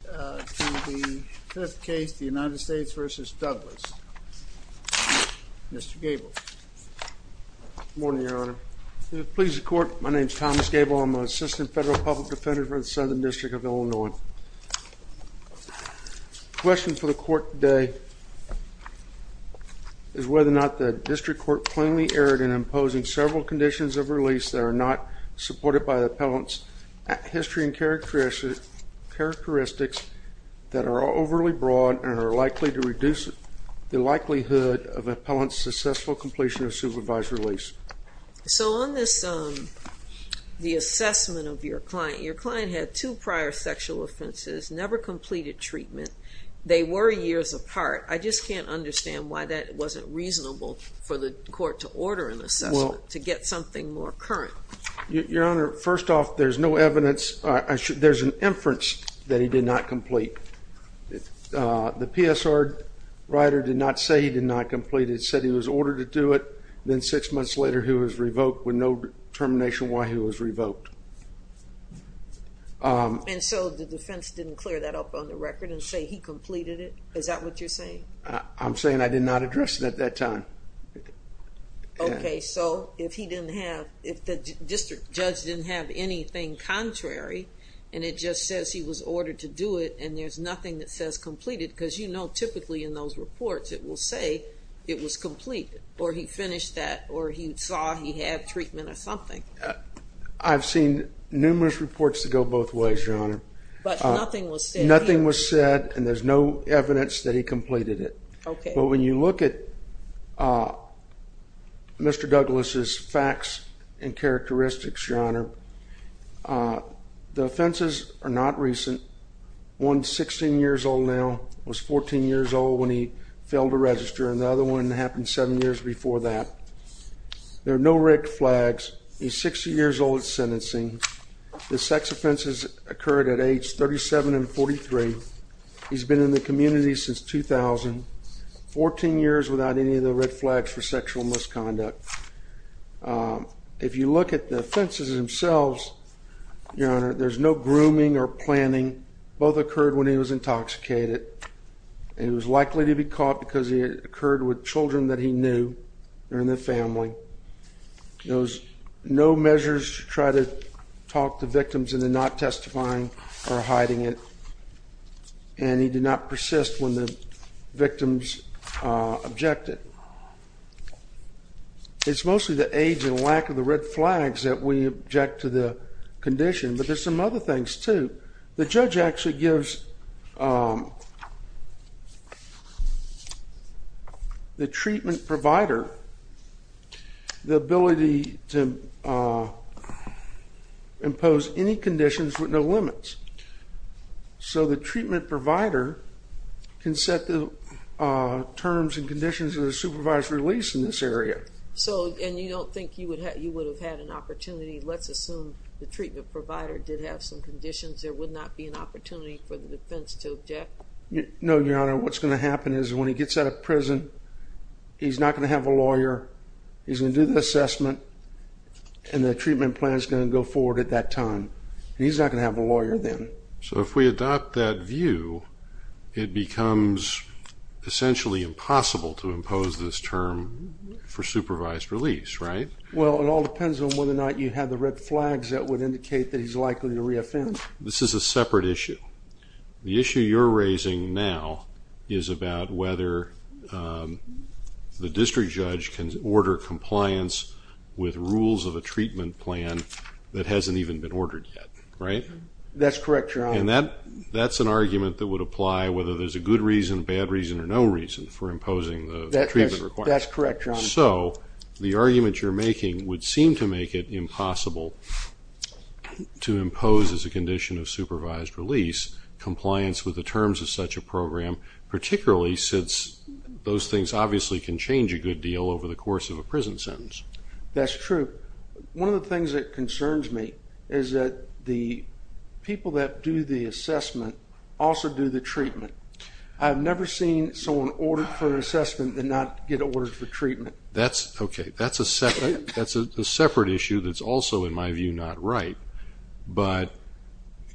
To the fifth case, the United States v. Douglas. Mr. Gable. Good morning, Your Honor. It pleases the Court, my name is Thomas Gable. I'm an Assistant Federal Public Defender for the Southern District of Illinois. The question for the Court today is whether or not the District Court plainly erred in imposing several conditions of release that are not supported by the appellant's history and characteristics that are overly broad and are likely to reduce the likelihood of an appellant's successful completion of supervised release. So on the assessment of your client, your client had two prior sexual offenses, never completed treatment, they were years apart. I just can't understand why that wasn't reasonable for the Court to order an assessment, to get something more current. Your Honor, first off, there's no evidence, there's an inference that he did not complete. The PSR writer did not say he did not complete it, said he was ordered to do it, then six months later he was revoked with no determination why he was revoked. And so the defense didn't clear that up on the record and say he completed it? Is that what you're saying? I'm saying I did not address it at that time. Okay, so if he didn't have, if the district judge didn't have anything contrary and it just says he was ordered to do it and there's nothing that says completed, because you know typically in those reports it will say it was completed, or he finished that, or he saw he had treatment or something. I've seen numerous reports that go both ways, Your Honor. But nothing was said? Nothing was said and there's no evidence that he completed it. Okay. But when you look at Mr. Douglas' facts and characteristics, Your Honor, the offenses are not recent. One's 16 years old now, was 14 years old when he failed to register, and the other one happened seven years before that. There are no red flags. He's 60 years old at sentencing. The sex offenses occurred at age 37 and 43. He's been in the community since 2000, 14 years without any of the red flags for sexual misconduct. If you look at the offenses themselves, Your Honor, there's no grooming or planning. Both occurred when he was intoxicated. He was likely to be caught because it occurred with children that he knew or in the family. There was no measures to try to talk to victims in the not testifying or hiding it. And he did not persist when the victims objected. It's mostly the age and lack of the red flags that we object to the condition, but there's some other things, too. The judge actually gives the treatment provider the ability to impose any conditions with no limits. So the treatment provider can set the terms and conditions of the supervised release in this area. And you don't think you would have had an opportunity. Let's assume the treatment provider did have some conditions. There would not be an opportunity for the defense to object? No, Your Honor. What's going to happen is when he gets out of prison, he's not going to have a lawyer. He's going to do the assessment, and the treatment plan is going to go forward at that time. He's not going to have a lawyer then. So if we adopt that view, it becomes essentially impossible to impose this term for supervised release, right? Well, it all depends on whether or not you have the red flags that would indicate that he's likely to reoffend. This is a separate issue. The issue you're raising now is about whether the district judge can order compliance with rules of a treatment plan that hasn't even been ordered yet, right? That's correct, Your Honor. And that's an argument that would apply whether there's a good reason, bad reason, or no reason for imposing the treatment requirements. That's correct, Your Honor. If so, the argument you're making would seem to make it impossible to impose as a condition of supervised release compliance with the terms of such a program, particularly since those things obviously can change a good deal over the course of a prison sentence. That's true. One of the things that concerns me is that the people that do the assessment also do the treatment. I've never seen someone order for an assessment and not get ordered for treatment. That's okay. That's a separate issue that's also, in my view, not right. But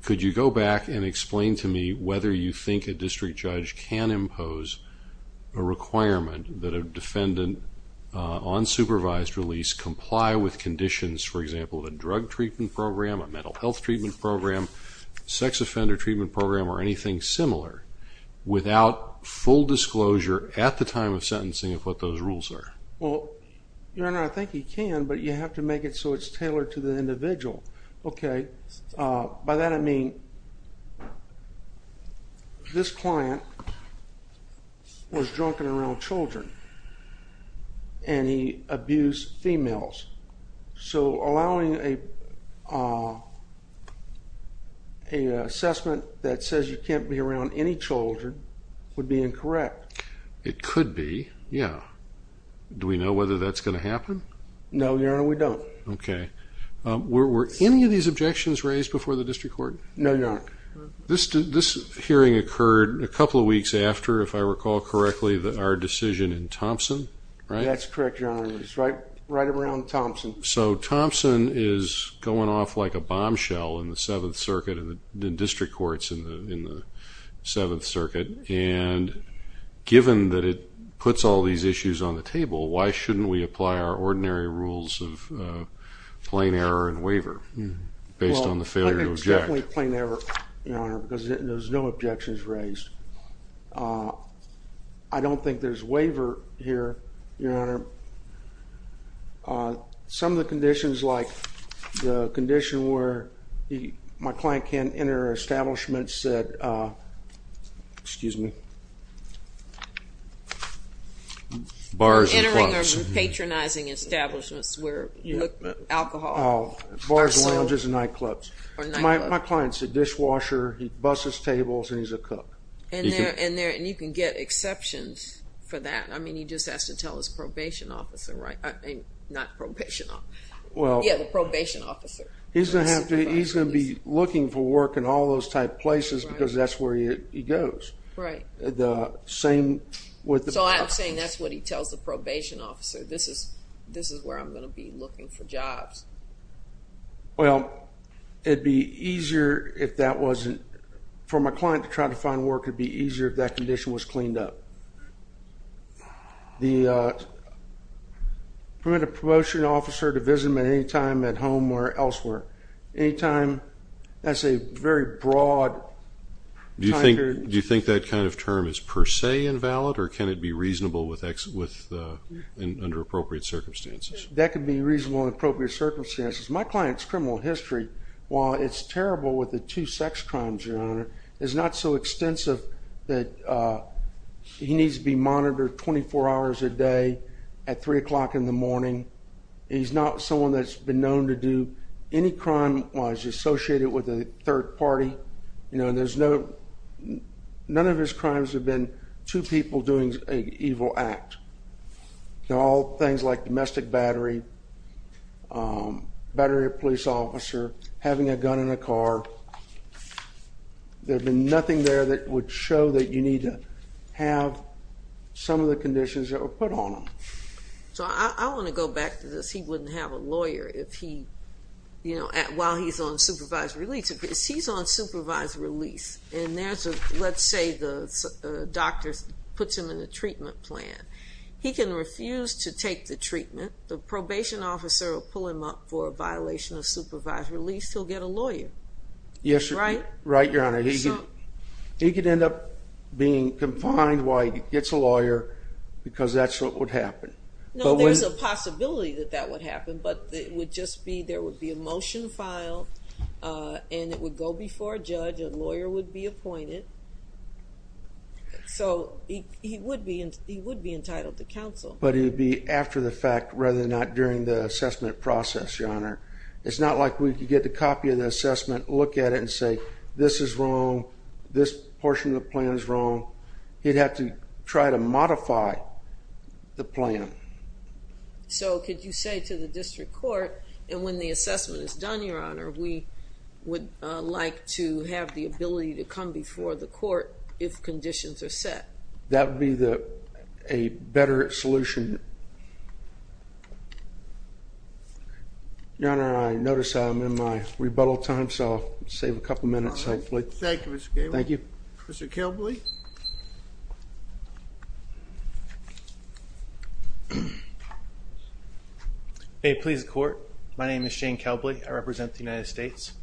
could you go back and explain to me whether you think a district judge can impose a requirement that a defendant on supervised release comply with conditions, for example, of a drug treatment program, a mental health treatment program, sex offender treatment program, or anything similar without full disclosure at the time of sentencing of what those rules are? Well, Your Honor, I think he can, but you have to make it so it's tailored to the individual. Okay. By that, I mean this client was drunken around children, and he abused females. So allowing an assessment that says you can't be around any children would be incorrect. It could be, yeah. Do we know whether that's going to happen? No, Your Honor, we don't. Okay. Were any of these objections raised before the district court? No, Your Honor. This hearing occurred a couple of weeks after, if I recall correctly, our decision in Thompson, right? That's correct, Your Honor. It was right around Thompson. So Thompson is going off like a bombshell in the Seventh Circuit and the district courts in the Seventh Circuit, and given that it puts all these issues on the table, why shouldn't we apply our ordinary rules of plain error and waiver based on the failure to object? Well, I think it's definitely plain error, Your Honor, because there's no objections raised. I don't think there's waiver here, Your Honor. Some of the conditions, like the condition where my client can't enter establishments that, excuse me. Bars and clubs. Entering or patronizing establishments where alcohol. Oh, bars, lounges, and nightclubs. My client's a dishwasher. He busses tables, and he's a cook. And you can get exceptions for that. I mean, he just has to tell his probation officer, right? Not probation officer. Yeah, the probation officer. He's going to be looking for work in all those type places because that's where he goes. Right. So I'm saying that's what he tells the probation officer. This is where I'm going to be looking for jobs. Well, it would be easier if that wasn't. For my client to try to find work, it would be easier if that condition was cleaned up. Permit a probation officer to visit him at any time at home or elsewhere. Any time. That's a very broad time period. Do you think that kind of term is per se invalid, or can it be reasonable under appropriate circumstances? That could be reasonable under appropriate circumstances. My client's criminal history, while it's terrible with the two sex crimes, Your Honor, is not so extensive that he needs to be monitored 24 hours a day at 3 o'clock in the morning. He's not someone that's been known to do any crime while he's associated with a third party. None of his crimes have been two people doing an evil act. They're all things like domestic battery, battery of a police officer, having a gun in a car. There'd be nothing there that would show that you need to have some of the conditions that were put on him. So I want to go back to this. He wouldn't have a lawyer while he's on supervised release. Because he's on supervised release, and let's say the doctor puts him in a treatment plan. He can refuse to take the treatment. The probation officer will pull him up for a violation of supervised release. He'll get a lawyer, right? Right, Your Honor. He could end up being confined while he gets a lawyer, because that's what would happen. No, there's a possibility that that would happen, but it would just be there would be a motion filed, A lawyer would be appointed. So he would be entitled to counsel. But it would be after the fact rather than during the assessment process, Your Honor. It's not like we could get a copy of the assessment, look at it and say, This is wrong, this portion of the plan is wrong. He'd have to try to modify the plan. So could you say to the district court, and when the assessment is done, Your Honor, We would like to have the ability to come before the court if conditions are set. That would be a better solution. Your Honor, I notice I'm in my rebuttal time, so I'll save a couple minutes, hopefully. Thank you, Mr. Gable. Thank you. Mr. Kelbley. May it please the court, my name is Shane Kelbley. I represent the United States.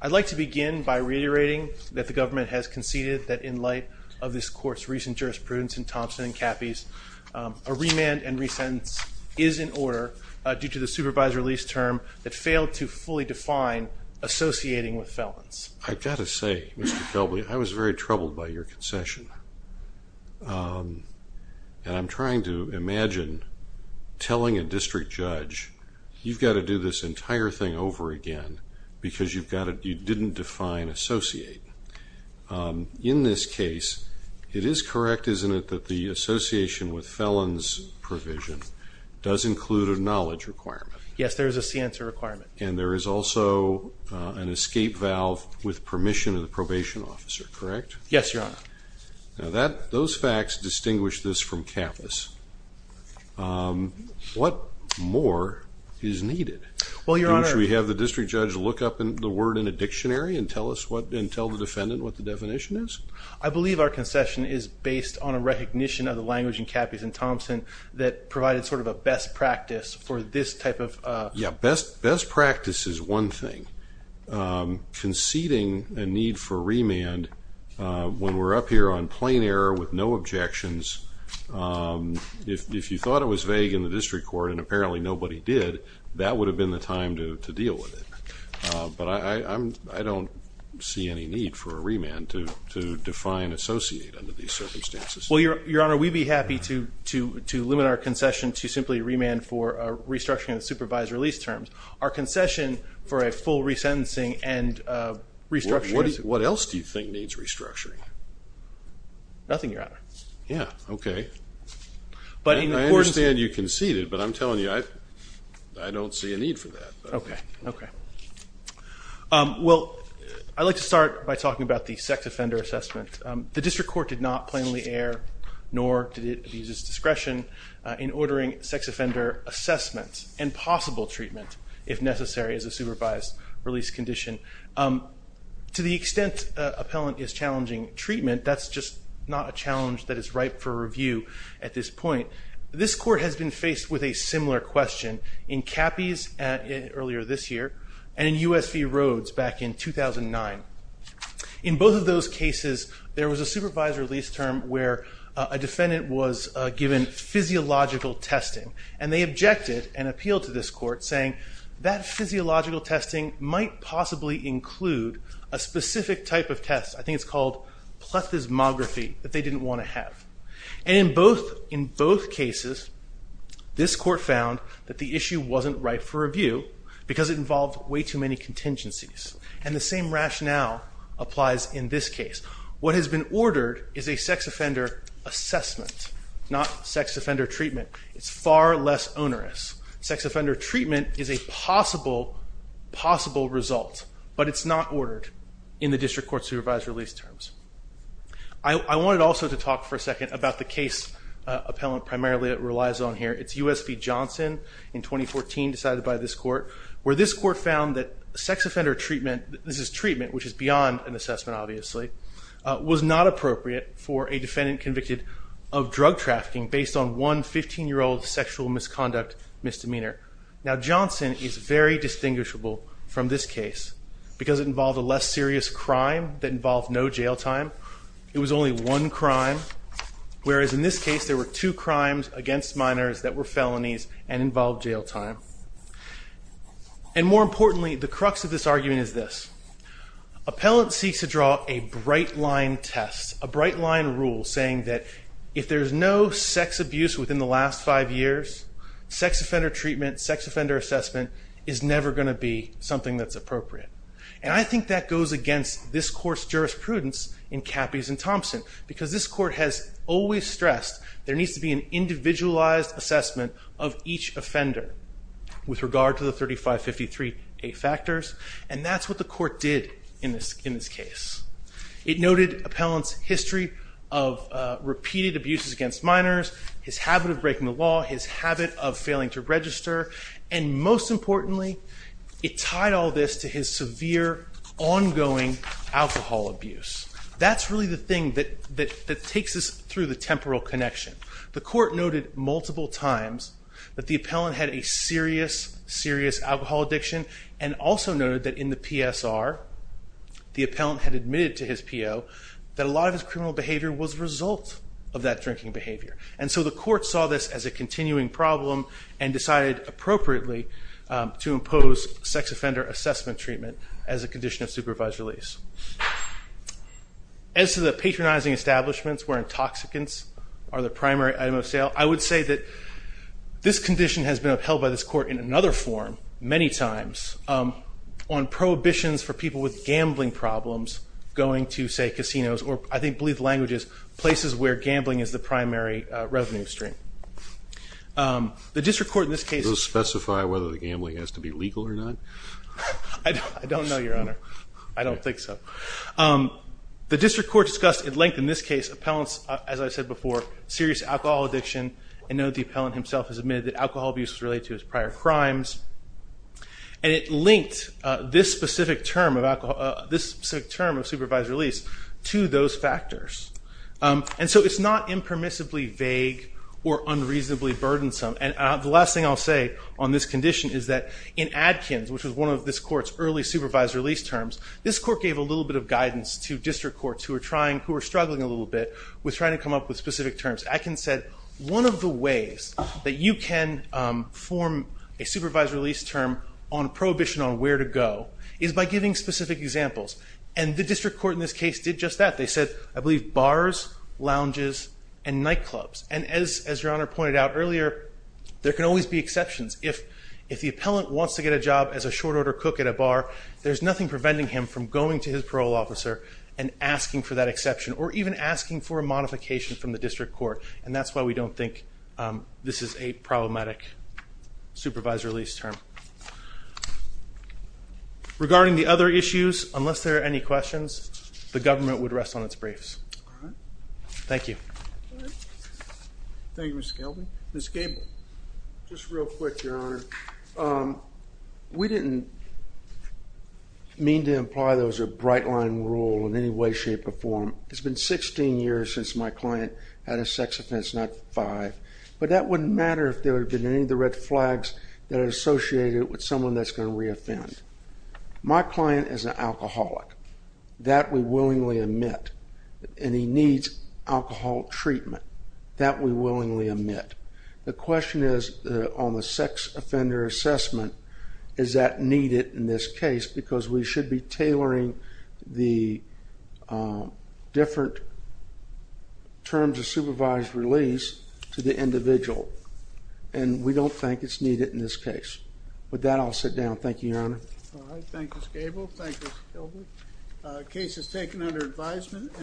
I'd like to begin by reiterating that the government has conceded that in light of this court's recent jurisprudence in Thompson and Cappy's, a remand and resentence is in order due to the supervisor lease term that failed to fully define associating with felons. I've got to say, Mr. Kelbley, I was very troubled by your concession. And I'm trying to imagine telling a district judge, you've got to do this entire thing over again because you didn't define associate. In this case, it is correct, isn't it, that the association with felons provision does include a knowledge requirement? Yes, there is a scienza requirement. And there is also an escape valve with permission of the probation officer, correct? Yes, Your Honor. Now, those facts distinguish this from Cappy's. What more is needed? Well, Your Honor. Should we have the district judge look up the word in a dictionary and tell the defendant what the definition is? I believe our concession is based on a recognition of the language in Cappy's and Thompson that provided sort of a best practice for this type of… Yeah, best practice is one thing. Conceding a need for remand when we're up here on plain error with no objections, if you thought it was vague in the district court and apparently nobody did, that would have been the time to deal with it. But I don't see any need for a remand to define associate under these circumstances. Well, Your Honor, we'd be happy to limit our concession to simply remand for restructuring the supervised release terms. Our concession for a full resentencing and restructuring… What else do you think needs restructuring? Nothing, Your Honor. Yeah, okay. I understand you conceded, but I'm telling you, I don't see a need for that. Okay, okay. Well, I'd like to start by talking about the sex offender assessment. The district court did not plainly err nor did it abuse its discretion in ordering sex offender assessments and possible treatment, if necessary, as a supervised release condition. To the extent an appellant is challenging treatment, that's just not a challenge that is ripe for review at this point. This court has been faced with a similar question in Cappy's earlier this year and in U.S. v. Rhodes back in 2009. In both of those cases, there was a supervised release term where a defendant was given physiological testing and they objected and appealed to this court saying that physiological testing might possibly include a specific type of test. I think it's called plethysmography that they didn't want to have. And in both cases, this court found that the issue wasn't ripe for review because it involved way too many contingencies. And the same rationale applies in this case. What has been ordered is a sex offender assessment, not sex offender treatment. It's far less onerous. Sex offender treatment is a possible, possible result, but it's not ordered in the district court's supervised release terms. I wanted also to talk for a second about the case appellant primarily relies on here. It's U.S. v. Johnson in 2014 decided by this court, where this court found that sex offender treatment, this is treatment which is beyond an assessment obviously, was not appropriate for a defendant convicted of drug trafficking based on one 15-year-old sexual misconduct misdemeanor. Now Johnson is very distinguishable from this case because it involved a less serious crime that involved no jail time. It was only one crime, whereas in this case there were two crimes against minors that were felonies and involved jail time. And more importantly, the crux of this argument is this. Appellant seeks to draw a bright line test, a bright line rule, saying that if there's no sex abuse within the last five years, sex offender treatment, sex offender assessment is never going to be something that's appropriate. And I think that goes against this court's jurisprudence in Cappies and Thompson because this court has always stressed there needs to be an individualized assessment of each offender with regard to the 3553A factors, and that's what the court did in this case. It noted appellant's history of repeated abuses against minors, his habit of breaking the law, his habit of failing to register, and most importantly, it tied all this to his severe ongoing alcohol abuse. That's really the thing that takes us through the temporal connection. The court noted multiple times that the appellant had a serious, serious alcohol addiction and also noted that in the PSR the appellant had admitted to his PO that a lot of his criminal behavior was a result of that drinking behavior. And so the court saw this as a continuing problem and decided appropriately to impose sex offender assessment treatment as a condition of supervised release. As to the patronizing establishments where intoxicants are the primary item of sale, I would say that this condition has been upheld by this court in another form many times on prohibitions for people with gambling problems going to, say, casinos, or I believe the language is places where gambling is the primary revenue stream. The district court in this case... Does it specify whether the gambling has to be legal or not? I don't know, Your Honor. I don't think so. The district court discussed at length in this case appellants, as I said before, serious alcohol addiction and noted the appellant himself has admitted that alcohol abuse was related to his prior crimes. And it linked this specific term of supervised release to those factors. And so it's not impermissibly vague or unreasonably burdensome. And the last thing I'll say on this condition is that in Adkins, which was one of this court's early supervised release terms, this court gave a little bit of guidance to district courts who were struggling a little bit with trying to come up with specific terms. Adkins said, one of the ways that you can form a supervised release term on prohibition on where to go is by giving specific examples. And the district court in this case did just that. They said, I believe, bars, lounges, and nightclubs. And as Your Honor pointed out earlier, there can always be exceptions. If the appellant wants to get a job as a short order cook at a bar, there's nothing preventing him from going to his parole officer and asking for that exception or even asking for a modification from the district court. And that's why we don't think this is a problematic supervised release term. Regarding the other issues, unless there are any questions, the government would rest on its briefs. Thank you. Thank you, Mr. Kelby. Ms. Gable. Just real quick, Your Honor. We didn't mean to imply there was a bright line rule in any way, shape, or form. It's been 16 years since my client had a sex offense, not five. But that wouldn't matter if there had been any of the red flags that are associated with someone that's going to re-offend. My client is an alcoholic. That we willingly admit. And he needs alcohol treatment. That we willingly admit. The question is on the sex offender assessment, is that needed in this case? Because we should be tailoring the different terms of supervised release to the individual. And we don't think it's needed in this case. With that, I'll sit down. Thank you, Your Honor. All right. Thank you, Ms. Gable. Thank you, Mr. Kelby. The case is taken under advisement.